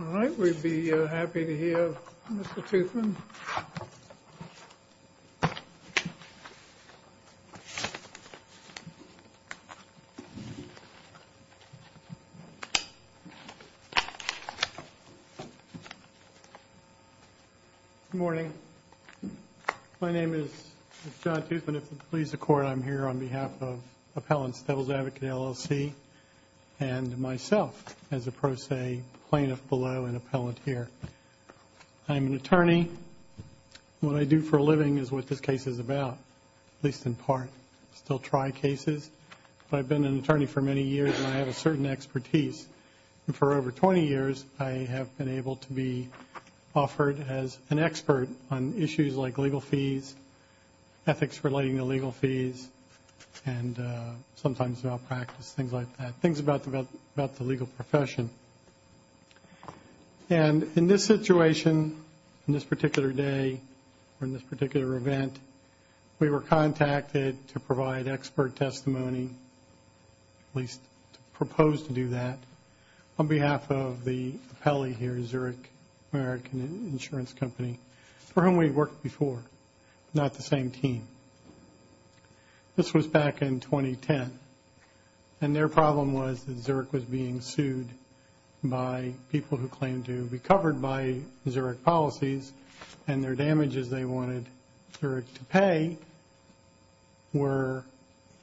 All right, we'd be happy to hear Mr. Toothman. Good morning. My name is John Toothman. If it pleases the Court, I'm here on behalf of Appellant's Devil's Advocate, LLC, and myself as a pro se plaintiff below and appellant here. I'm an attorney. What I do for a living is what this case is about, at least in part. I still try cases, but I've been an attorney for many years, and I have a certain expertise. And for over 20 years, I have been able to be offered as an expert on issues like legal fees, ethics relating to legal fees, and sometimes malpractice, things like that, things about the legal profession. And in this situation, in this particular day, or in this particular event, we were contacted to provide expert testimony, at least to propose to do that, on behalf of the appellee here, Zurich American Insurance Company, for whom we worked before, not the same team. This was back in 2010. And their problem was that Zurich was being sued by people who claimed to be covered by Zurich policies, and their damages they wanted Zurich to pay were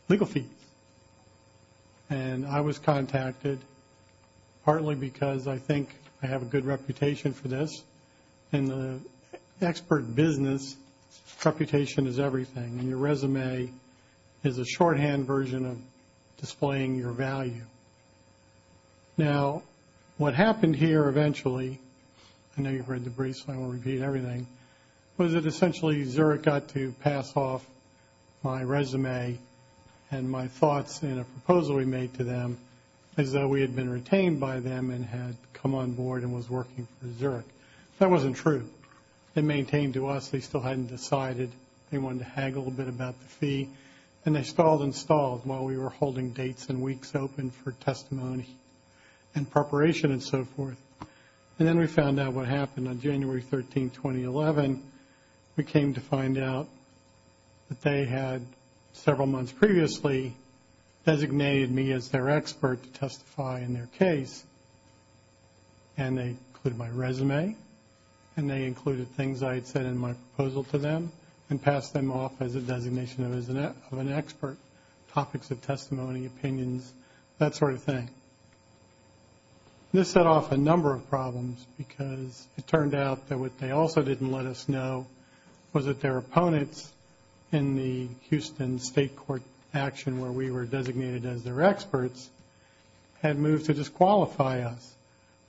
legal fees. And I was contacted partly because I think I have a good reputation for this. In the expert business, reputation is everything. Your resume is a shorthand version of displaying your value. Now, what happened here eventually, I know you've read the briefs, so I won't repeat everything, was that essentially Zurich got to pass off my resume and my thoughts in a proposal we made to them as though we had been retained by them and had come on board and was working for Zurich. That wasn't true. They maintained to us they still hadn't decided. They wanted to haggle a bit about the fee. And they stalled and stalled while we were holding dates and weeks open for testimony and preparation and so forth. And then we found out what happened on January 13, 2011. We came to find out that they had, several months previously, designated me as their expert to testify in their case. And they included my resume and they included things I had said in my proposal to them and passed them off as a designation of an expert, topics of testimony, opinions, that sort of thing. This set off a number of problems because it turned out that what they also didn't let us know was that their opponents in the Houston State Court action where we were designated as their experts had moved to disqualify us,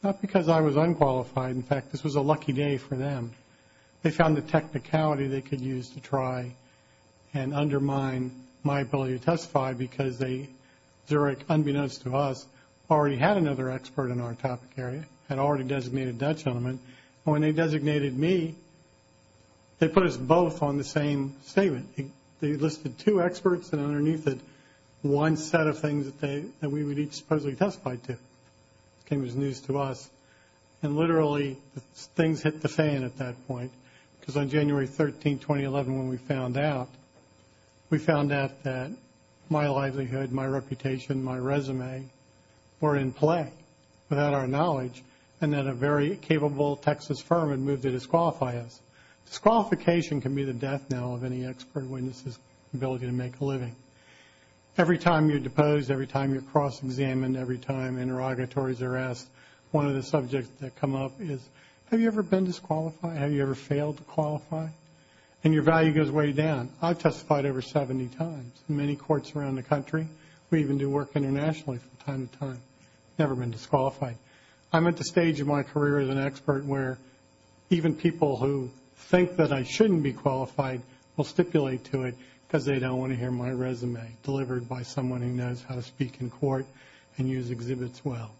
not because I was unqualified. In fact, this was a lucky day for them. They found the technicality they could use to try and undermine my ability to testify because Zurich, unbeknownst to us, already had another expert in our topic area, had already designated that gentleman. And when they designated me, they put us both on the same statement. They listed two experts and underneath it one set of things that we would each supposedly testify to. It was news to us. And literally things hit the fan at that point because on January 13, 2011, when we found out, we found out that my livelihood, my reputation, my resume were in play without our knowledge and that a very capable Texas firm had moved to disqualify us. Disqualification can be the death knell of any expert witness' ability to make a living. Every time you're deposed, every time you're cross-examined, every time interrogatories are asked, one of the subjects that come up is, have you ever been disqualified? Have you ever failed to qualify? And your value goes way down. I've testified over 70 times in many courts around the country. We even do work internationally from time to time. Never been disqualified. I'm at the stage in my career as an expert where even people who think that I shouldn't be qualified will stipulate to it because they don't want to hear my resume delivered by someone who knows how to speak in court and use exhibits well.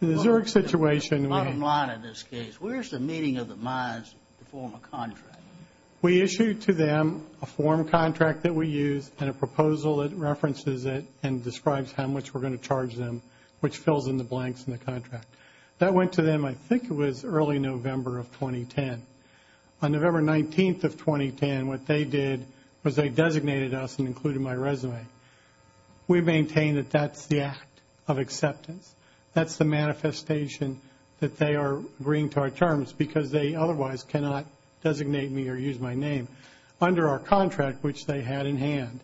In the Zurich situation, we have... Bottom line in this case, where's the meaning of the Meyers to form a contract? We issue to them a form contract that we use and a proposal that references it and describes how much we're going to charge them, which fills in the blanks in the contract. That went to them, I think it was, early November of 2010. On November 19th of 2010, what they did was they designated us and included my resume. We maintain that that's the act of acceptance. That's the manifestation that they are agreeing to our terms because they otherwise cannot designate me or use my name under our contract, which they had in hand.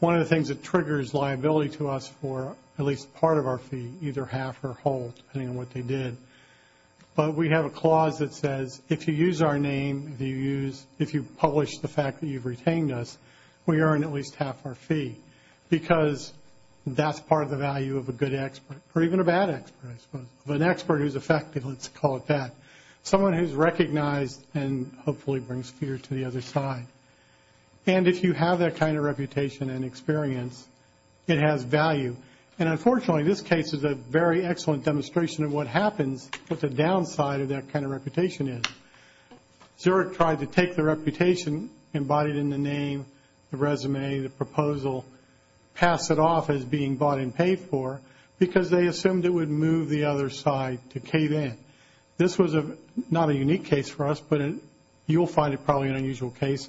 One of the things that triggers liability to us for at least part of our fee, either half or whole, depending on what they did, but we have a clause that says if you use our name, if you publish the fact that you've retained us, we earn at least half our fee because that's part of the value of a good expert or even a bad expert, I suppose, of an expert who's effective, let's call it that, someone who's recognized and hopefully brings fear to the other side. And if you have that kind of reputation and experience, it has value. And unfortunately, this case is a very excellent demonstration of what happens with the downside of that kind of reputation is. Zurich tried to take the reputation embodied in the name, the resume, the proposal, pass it off as being bought and paid for because they assumed it would move the other side to cave in. This was not a unique case for us, but you'll find it probably an unusual case.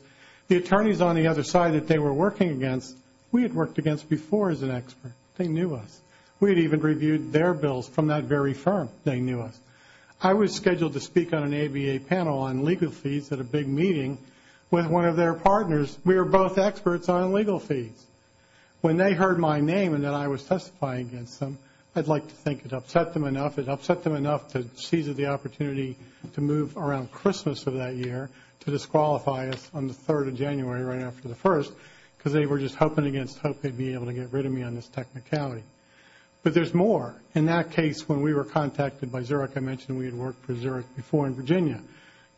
The attorneys on the other side that they were working against, we had worked against before as an expert. They knew us. We had even reviewed their bills from that very firm. They knew us. I was scheduled to speak on an ABA panel on legal fees at a big meeting with one of their partners. We were both experts on legal fees. When they heard my name and then I was testifying against them, I'd like to think it upset them enough. It upset them enough to seize the opportunity to move around Christmas of that year to disqualify us on the 3rd of January right after the 1st because they were just hoping against hope they'd be able to get rid of me on this technicality. But there's more. In that case, when we were contacted by Zurich, I mentioned we had worked for Zurich before in Virginia,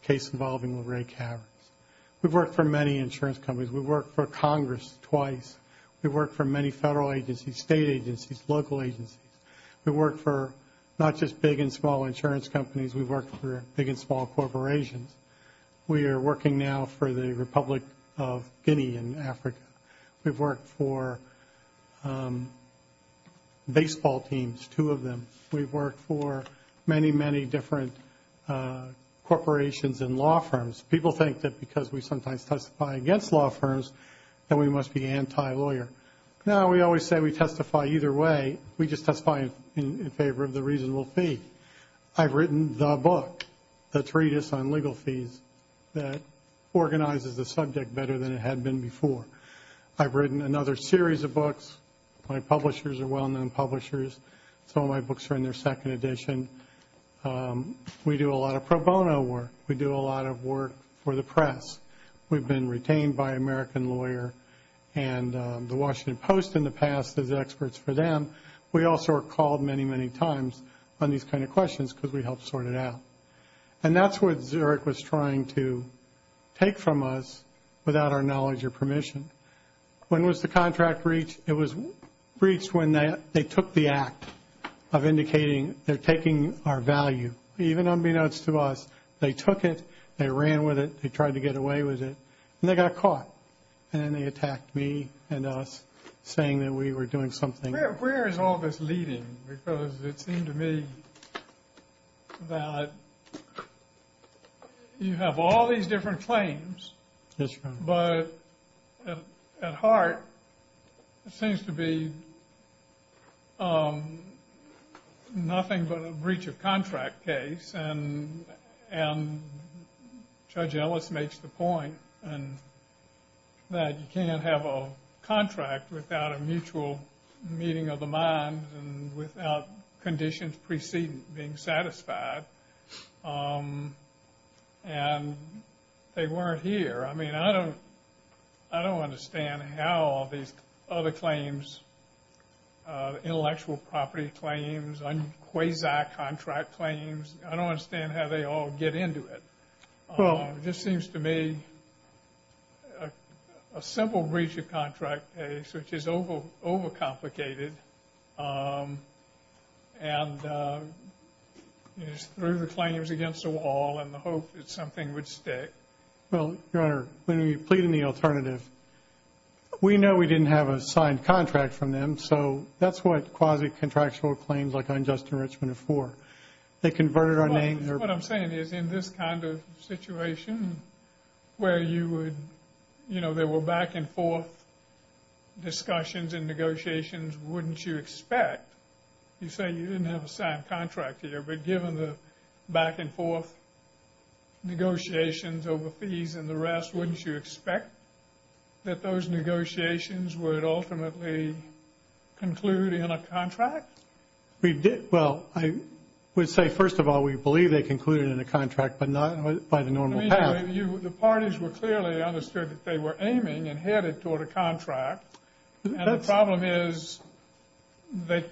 a case involving LeRae Cavers. We've worked for many insurance companies. We've worked for Congress twice. We've worked for many federal agencies, state agencies, local agencies. We've worked for not just big and small insurance companies. We've worked for big and small corporations. We are working now for the Republic of Guinea in Africa. We've worked for baseball teams, two of them. We've worked for many, many different corporations and law firms. People think that because we sometimes testify against law firms that we must be anti-lawyer. No, we always say we testify either way. We just testify in favor of the reasonable fee. I've written the book, The Treatise on Legal Fees, that organizes the subject better than it had been before. I've written another series of books. My publishers are well-known publishers. Some of my books are in their second edition. We do a lot of pro bono work. We do a lot of work for the press. We've been retained by American Lawyer and The Washington Post in the past as experts for them. We also are called many, many times on these kind of questions because we help sort it out. And that's what Zurich was trying to take from us without our knowledge or permission. When was the contract reached? It was reached when they took the act of indicating they're taking our value. Even unbeknownst to us, they took it, they ran with it, they tried to get away with it, and they got caught. And then they attacked me and us saying that we were doing something. Where is all this leading? Because it seemed to me that you have all these different claims. Yes, Your Honor. But at heart, it seems to be nothing but a breach of contract case. And Judge Ellis makes the point that you can't have a contract without a mutual meeting of the mind and without conditions preceding being satisfied. And they weren't here. I mean, I don't understand how all these other claims, intellectual property claims, quasi-contract claims, I don't understand how they all get into it. It just seems to me a simple breach of contract case, which is overcomplicated, and it's through the claims against the wall in the hope that something would stick. Well, Your Honor, when you plead in the alternative, we know we didn't have a signed contract from them, so that's what quasi-contractual claims like unjust enrichment are for. They converted our name. What I'm saying is in this kind of situation where you would, you know, there were back and forth discussions and negotiations, wouldn't you expect, you say you didn't have a signed contract here, but given the back and forth negotiations over fees and the rest, wouldn't you expect that those negotiations would ultimately conclude in a contract? Well, I would say, first of all, we believe they concluded in a contract, but not by the normal path. The parties were clearly understood that they were aiming and headed toward a contract. And the problem is they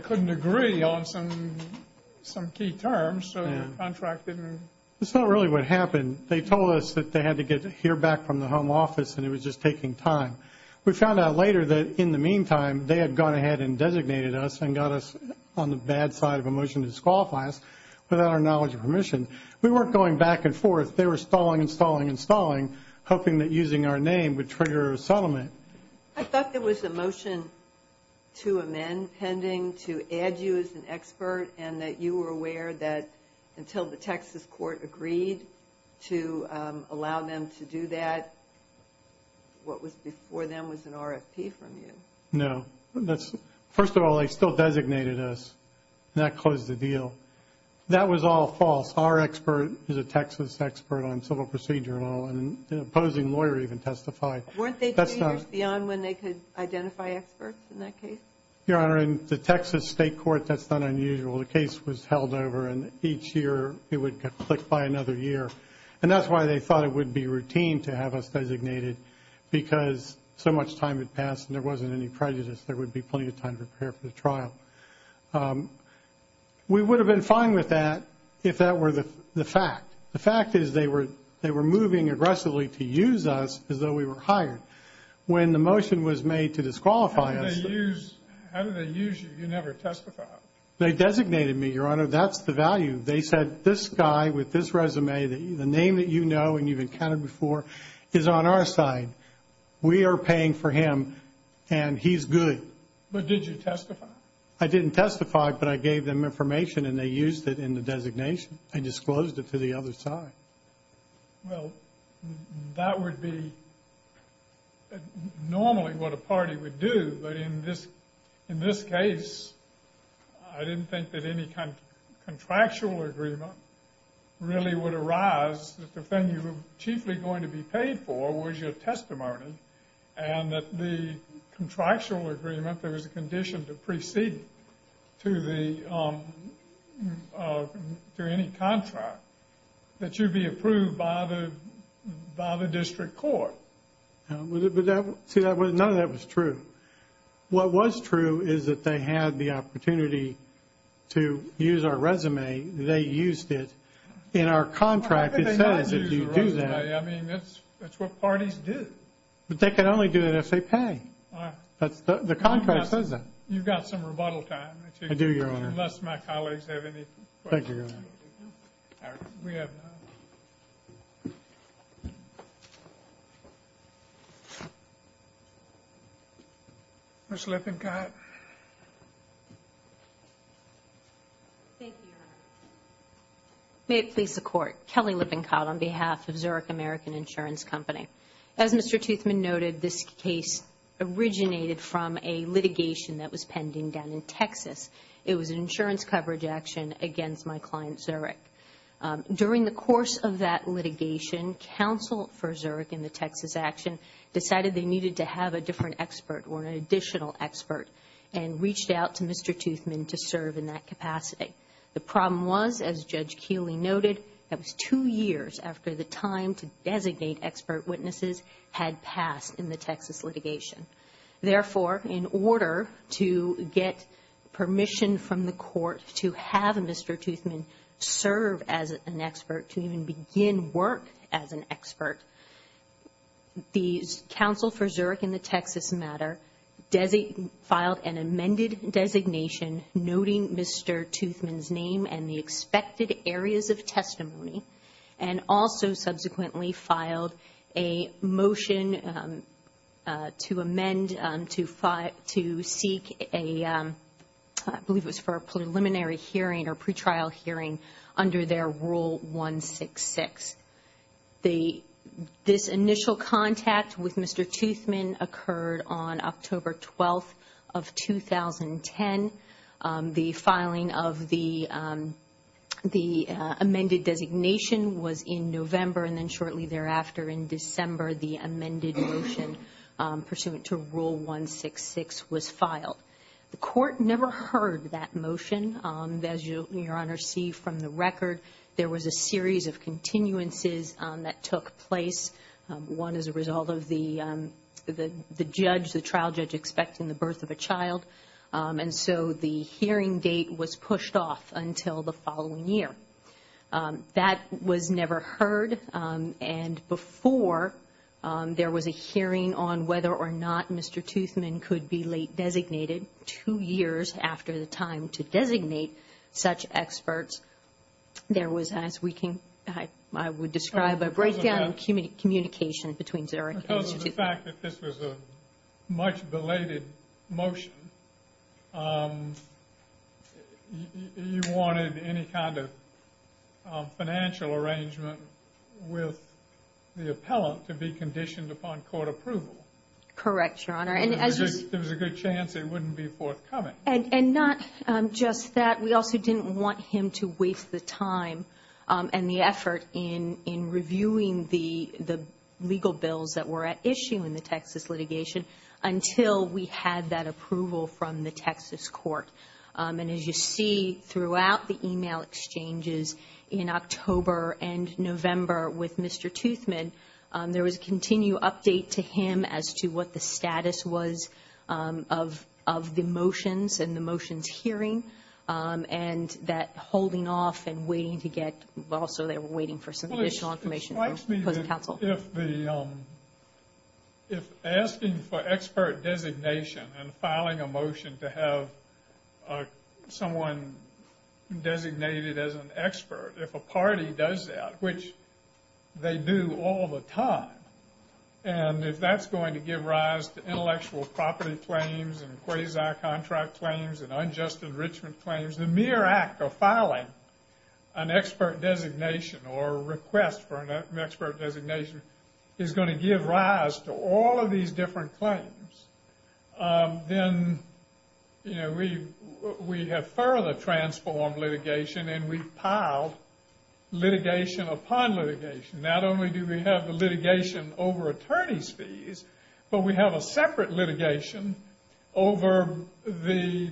couldn't agree on some key terms, so the contract didn't. That's not really what happened. They told us that they had to hear back from the home office and it was just taking time. We found out later that in the meantime they had gone ahead and designated us and got us on the bad side of a motion to disqualify us without our knowledge and permission. We weren't going back and forth. They were stalling and stalling and stalling, hoping that using our name would trigger a settlement. I thought there was a motion to amend pending to add you as an expert and that you were aware that until the Texas court agreed to allow them to do that, what was before them was an RFP from you. No. First of all, they still designated us. That closed the deal. That was all false. Our expert is a Texas expert on civil procedure law and an opposing lawyer even testified. Weren't they two years beyond when they could identify experts in that case? Your Honor, in the Texas state court, that's not unusual. The case was held over and each year it would get clicked by another year. And that's why they thought it would be routine to have us designated because so much time had passed and there wasn't any prejudice. There would be plenty of time to prepare for the trial. We would have been fine with that if that were the fact. The fact is they were moving aggressively to use us as though we were hired. When the motion was made to disqualify us. How did they use you? You never testified. They designated me, Your Honor. That's the value. They said this guy with this resume, the name that you know and you've encountered before, is on our side. We are paying for him and he's good. But did you testify? I didn't testify, but I gave them information and they used it in the designation. I disclosed it to the other side. Well, that would be normally what a party would do, but in this case I didn't think that any kind of contractual agreement really would arise that the thing you were chiefly going to be paid for was your testimony and that the contractual agreement, there was a condition to proceed to any contract that you'd be approved by the district court. See, none of that was true. What was true is that they had the opportunity to use our resume. They used it. In our contract it says that you do that. I mean, that's what parties do. But they can only do that if they pay. The contract says that. You've got some rebuttal time. I do, Your Honor. Unless my colleagues have any questions. Thank you, Your Honor. We have none. Ms. Lippincott. Thank you, Your Honor. May it please the Court. Kelly Lippincott on behalf of Zurich American Insurance Company. As Mr. Toothman noted, this case originated from a litigation that was pending down in Texas. It was an insurance coverage action against my client, Zurich. During the course of that litigation, counsel for Zurich in the Texas action decided they needed to have a different expert or an additional expert and reached out to Mr. Toothman to serve in that capacity. The problem was, as Judge Keeley noted, that was two years after the time to designate expert witnesses had passed in the Texas litigation. Therefore, in order to get permission from the court to have Mr. Toothman serve as an expert, the counsel for Zurich in the Texas matter filed an amended designation noting Mr. Toothman's name and the expected areas of testimony and also subsequently filed a motion to amend to seek a, I believe it was for a preliminary hearing or pretrial hearing under their Rule 166. This initial contact with Mr. Toothman occurred on October 12th of 2010. The filing of the amended designation was in November and then shortly thereafter in December the amended motion pursuant to Rule 166 was filed. The court never heard that motion. As you, Your Honor, see from the record, there was a series of continuances that took place. One is a result of the judge, the trial judge, expecting the birth of a child and so the hearing date was pushed off until the following year. That was never heard and before there was a hearing on whether or not Mr. Toothman could be late designated, two years after the time to designate such experts, there was, as we can, I would describe, a breakdown in communication between Zurich. Because of the fact that this was a much belated motion, you wanted any kind of financial arrangement with the appellant to be conditioned upon court approval. Correct, Your Honor. There was a good chance it wouldn't be forthcoming. And not just that, we also didn't want him to waste the time and the effort in reviewing the legal bills that were at issue in the Texas litigation until we had that approval from the Texas court. And as you see throughout the email exchanges in October and November with Mr. Toothman, there was a continued update to him as to what the status was of the motions and the motions hearing and that holding off and waiting to get, also they were waiting for some additional information from the opposing counsel. If asking for expert designation and filing a motion to have someone designated as an expert, if a party does that, which they do all the time, and if that's going to give rise to intellectual property claims and quasi-contract claims and unjust enrichment claims, the mere act of filing an expert designation or request for an expert designation is going to give rise to all of these different claims, then we have further transformed litigation and we've piled litigation upon litigation. Not only do we have the litigation over attorney's fees, but we have a separate litigation over the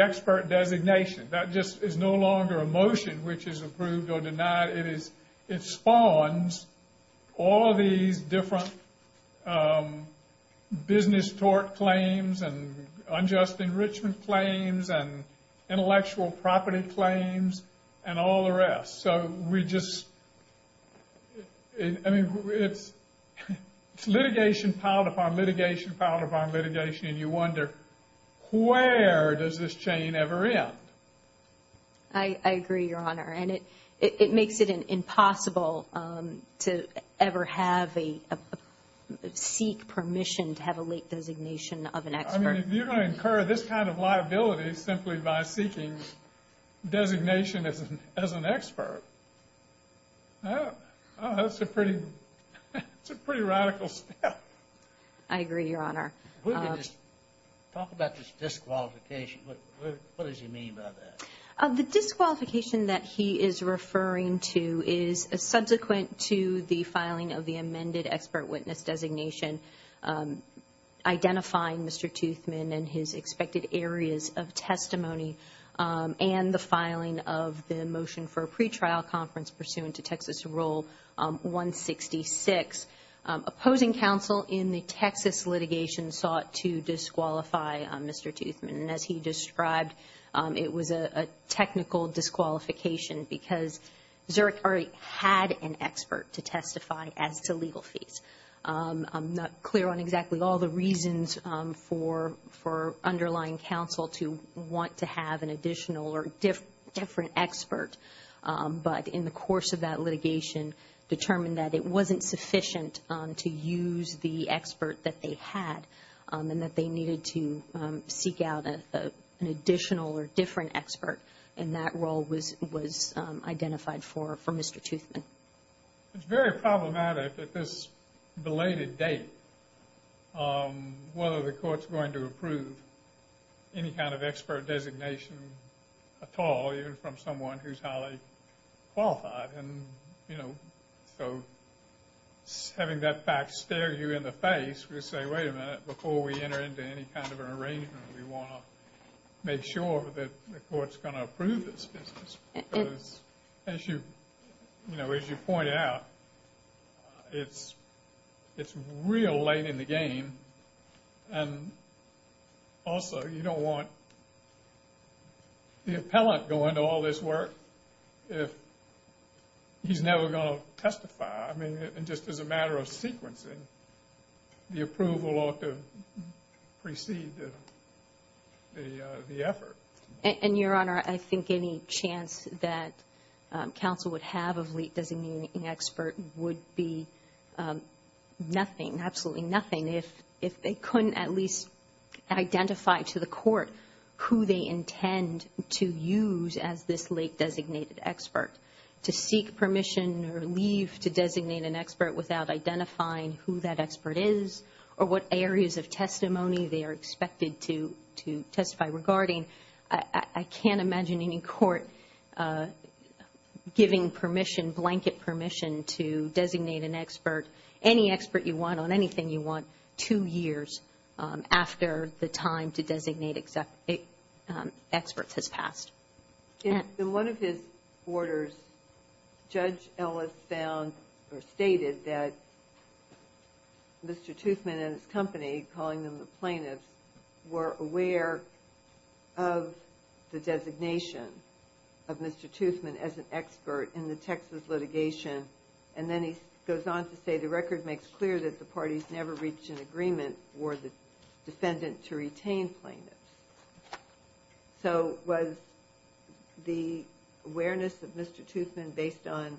expert designation. That just is no longer a motion which is approved or denied. It spawns all of these different business tort claims and unjust enrichment claims and intellectual property claims and all the rest. It's litigation piled upon litigation piled upon litigation and you wonder, where does this chain ever end? I agree, Your Honor, and it makes it impossible to ever seek permission to have a late designation of an expert. If you're going to incur this kind of liability simply by seeking designation as an expert, that's a pretty radical step. I agree, Your Honor. Talk about this disqualification. What does he mean by that? The disqualification that he is referring to is subsequent to the filing of the amended expert witness designation identifying Mr. Toothman and his expected areas of testimony and the filing of the motion for a pretrial conference pursuant to Texas Rule 166. Opposing counsel in the Texas litigation sought to disqualify Mr. Toothman. As he described, it was a technical disqualification because Zurich already had an expert to testify as to legal fees. I'm not clear on exactly all the reasons for underlying counsel to want to have an additional or different expert, but in the course of that litigation determined that it wasn't sufficient to use the expert that they had and that they needed to seek out an additional or different expert, and that role was identified for Mr. Toothman. It's very problematic at this belated date whether the court's going to approve any kind of expert designation at all, even from someone who's highly qualified. And, you know, so having that fact stare you in the face would say, wait a minute, before we enter into any kind of an arrangement, we want to make sure that the court's going to approve this business. As you pointed out, it's real late in the game. And also, you don't want the appellant going to all this work if he's never going to testify. I mean, just as a matter of sequencing, the approval ought to precede the effort. And, Your Honor, I think any chance that counsel would have of late designating an expert would be nothing, absolutely nothing if they couldn't at least identify to the court who they intend to use as this late designated expert, to seek permission or leave to designate an expert without identifying who that expert is or what areas of testimony they are expected to testify regarding. I can't imagine any court giving permission, blanket permission, to designate an expert, any expert you want on anything you want, two years after the time to designate experts has passed. In one of his orders, Judge Ellis found or stated that Mr. Toothman and his company, calling them the plaintiffs, were aware of the designation of Mr. Toothman as an expert in the Texas litigation. And then he goes on to say the record makes clear that the parties never reached an agreement for the defendant to retain plaintiffs. So was the awareness of Mr. Toothman based on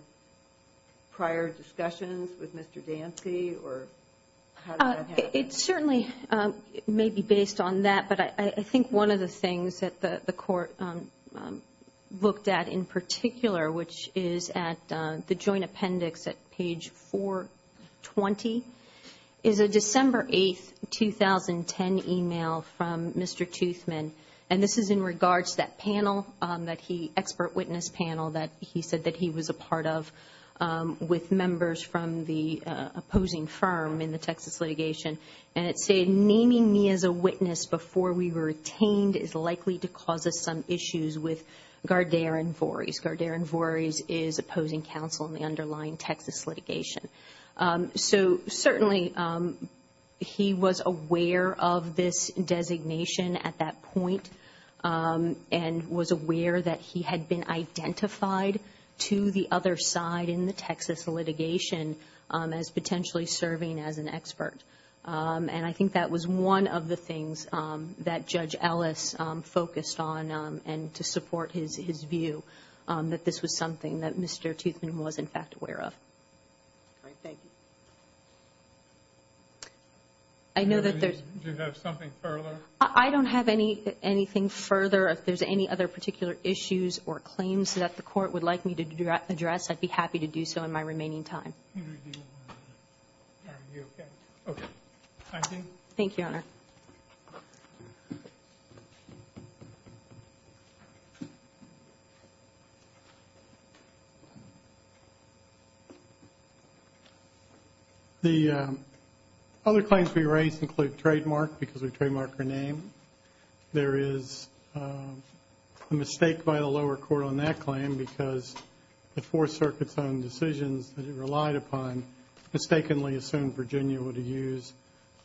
prior discussions with Mr. Dancy or how did that happen? It certainly may be based on that, but I think one of the things that the court looked at in particular, which is at the joint appendix at page 420, is a December 8, 2010, email from Mr. Toothman. And this is in regards to that panel, that expert witness panel that he said that he was a part of with members from the opposing firm in the Texas litigation. And it said, Naming me as a witness before we were retained is likely to cause us some issues with Gardair and Voorhees. Gardair and Voorhees is opposing counsel in the underlying Texas litigation. So certainly he was aware of this designation at that point and was aware that he had been identified to the other side in the Texas litigation as potentially serving as an expert. And I think that was one of the things that Judge Ellis focused on and to support his view, that this was something that Mr. Toothman was, in fact, aware of. All right. Thank you. I know that there's – Do you have something further? I don't have anything further. If there's any other particular issues or claims that the court would like me to address, I'd be happy to do so in my remaining time. Are you okay? Okay. Thank you, Your Honor. The other claims we raised include trademark because we trademarked her name. There is a mistake by the lower court on that claim because the Fourth Circuit's own decisions that it relied upon mistakenly assumed Virginia would use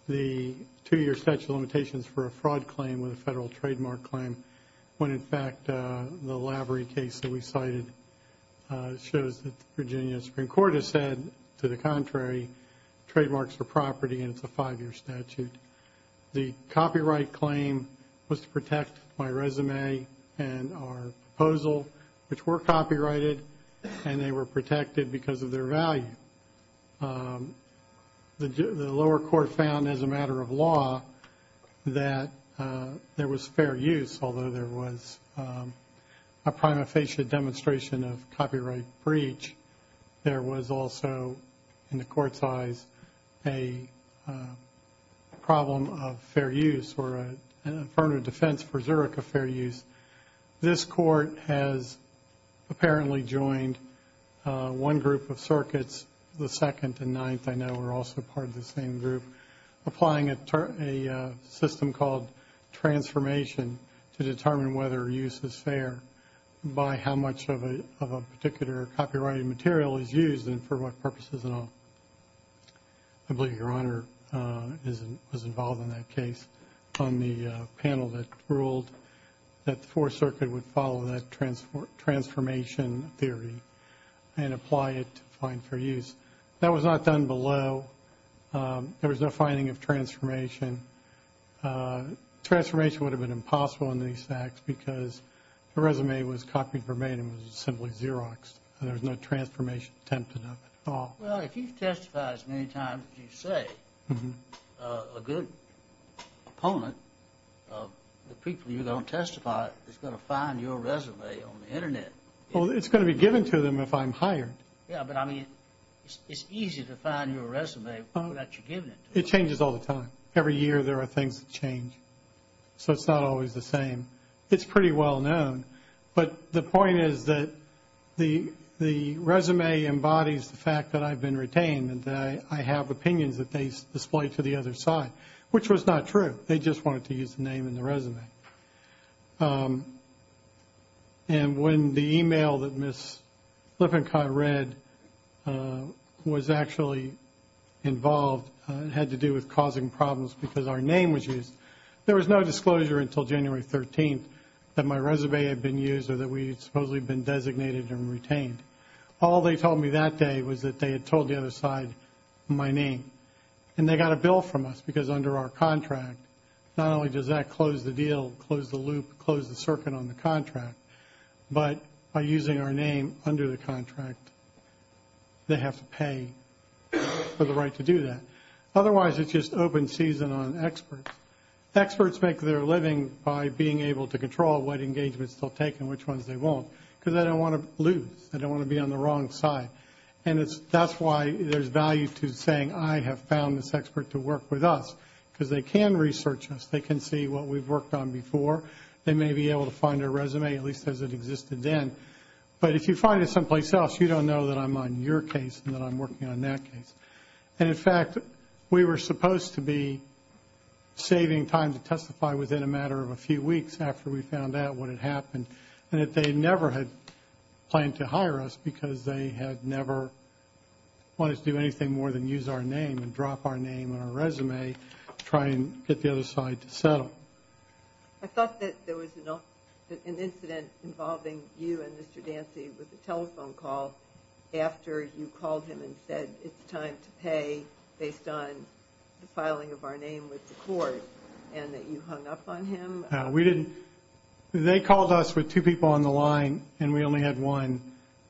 the two-year statute of limitations for a fraud claim with a federal trademark claim when, in fact, the Lavery case that we cited shows that the Virginia Supreme Court has said, to the contrary, trademarks are property and it's a five-year statute. The copyright claim was to protect my resume and our proposal, which were copyrighted, and they were protected because of their value. The lower court found, as a matter of law, that there was fair use, although there was a prima facie demonstration of copyright breach. There was also, in the court's eyes, a problem of fair use or an affirmative defense for Zurich of fair use. This court has apparently joined one group of circuits, the Second and Ninth, I know are also part of the same group, applying a system called transformation to determine whether use is fair by how much of a particular copyrighted material is used and for what purposes at all. I believe Your Honor was involved in that case on the panel that ruled that the Fourth Circuit would follow that transformation theory and apply it to find fair use. That was not done below. There was no finding of transformation. Transformation would have been impossible in these facts because the resume was copyrighted and was simply Xeroxed. There was no transformation attempted at all. Well, if you testify as many times as you say, a good opponent of the people you're going to testify to is going to find your resume on the Internet. Well, it's going to be given to them if I'm hired. Yeah, but I mean, it's easy to find your resume without you giving it to them. It changes all the time. Every year there are things that change, so it's not always the same. It's pretty well known. But the point is that the resume embodies the fact that I've been retained and that I have opinions that they display to the other side, which was not true. They just wanted to use the name in the resume. And when the email that Ms. Lippincott read was actually involved, it had to do with causing problems because our name was used. There was no disclosure until January 13th that my resume had been used or that we had supposedly been designated and retained. All they told me that day was that they had told the other side my name. And they got a bill from us because under our contract, not only does that close the deal, close the loop, close the circuit on the contract, but by using our name under the contract, they have to pay for the right to do that. Otherwise, it's just open season on experts. Experts make their living by being able to control what engagements they'll take and which ones they won't because they don't want to lose. They don't want to be on the wrong side. And that's why there's value to saying, I have found this expert to work with us because they can research us. They can see what we've worked on before. They may be able to find our resume, at least as it existed then. But if you find it someplace else, you don't know that I'm on your case and that I'm working on that case. And, in fact, we were supposed to be saving time to testify within a matter of a few weeks after we found out what had happened and that they never had planned to hire us because they had never wanted to do anything more than use our name and drop our name on our resume to try and get the other side to settle. I thought that there was an incident involving you and Mr. Dancy with a telephone call after you called him and said it's time to pay based on the filing of our name with the court and that you hung up on him. No, we didn't. They called us with two people on the line and we only had one. And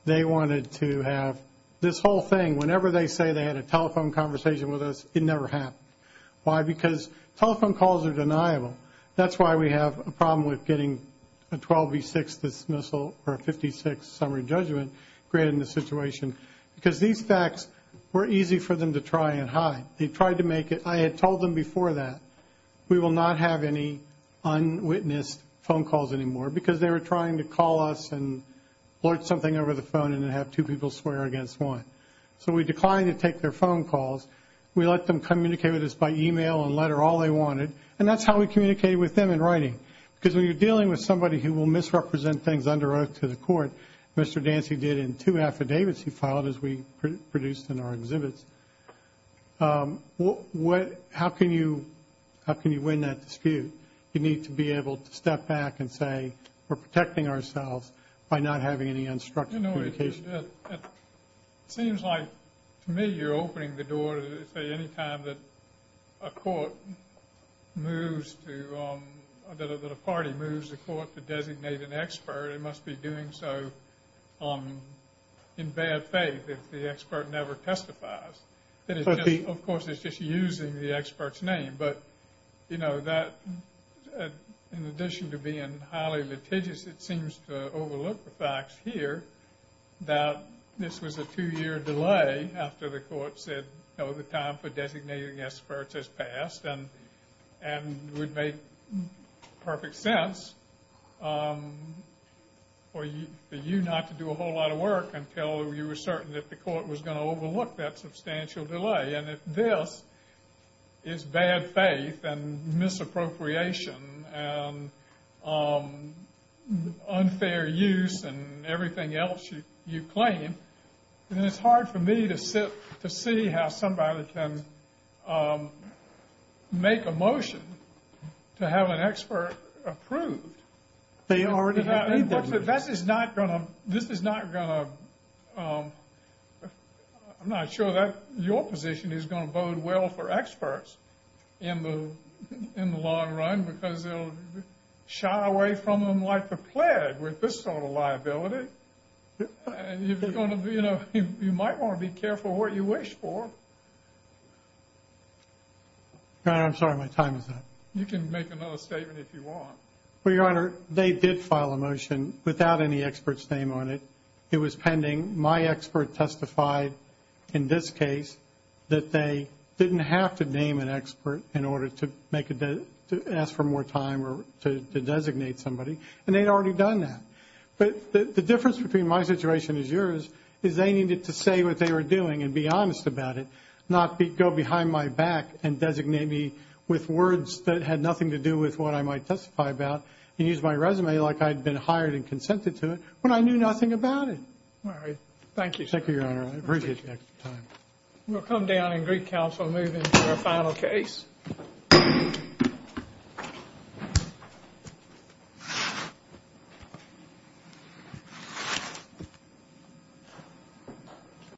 they wanted to have this whole thing. Whenever they say they had a telephone conversation with us, it never happened. Why? Because telephone calls are deniable. That's why we have a problem with getting a 12 v. 6 dismissal or a 56 summary judgment granted in this situation because these facts were easy for them to try and hide. They tried to make it. I had told them before that we will not have any unwitnessed phone calls anymore because they were trying to call us and blurt something over the phone and then have two people swear against one. So we declined to take their phone calls. We let them communicate with us by email and letter all they wanted, and that's how we communicated with them in writing. Because when you're dealing with somebody who will misrepresent things under oath to the court, Mr. Dancy did in two affidavits he filed as we produced in our exhibits, how can you win that dispute? You need to be able to step back and say we're protecting ourselves by not having any unstructured communication. It seems like to me you're opening the door to say any time that a court moves to or that a party moves the court to designate an expert, it must be doing so in bad faith if the expert never testifies. Of course, it's just using the expert's name. But, you know, in addition to being highly litigious, it seems to overlook the facts here that this was a two-year delay after the court said no, the time for designating experts has passed and would make perfect sense for you not to do a whole lot of work until you were certain that the court was going to overlook that substantial delay. And if this is bad faith and misappropriation and unfair use and everything else you claim, then it's hard for me to sit to see how somebody can make a motion to have an expert approved. But this is not going to... I'm not sure that your position is going to bode well for experts in the long run because they'll shy away from them like the plague with this sort of liability. You might want to be careful what you wish for. I'm sorry, my time is up. You can make another statement if you want. Well, Your Honor, they did file a motion without any expert's name on it. It was pending. My expert testified in this case that they didn't have to name an expert in order to ask for more time or to designate somebody, and they'd already done that. But the difference between my situation and yours is they needed to say what they were doing and be honest about it, not go behind my back and designate me with words that had nothing to do with what I might testify about and use my resume like I'd been hired and consented to it when I knew nothing about it. All right, thank you. Thank you, Your Honor. I appreciate your time. We'll come down in Greek Council and move into our final case.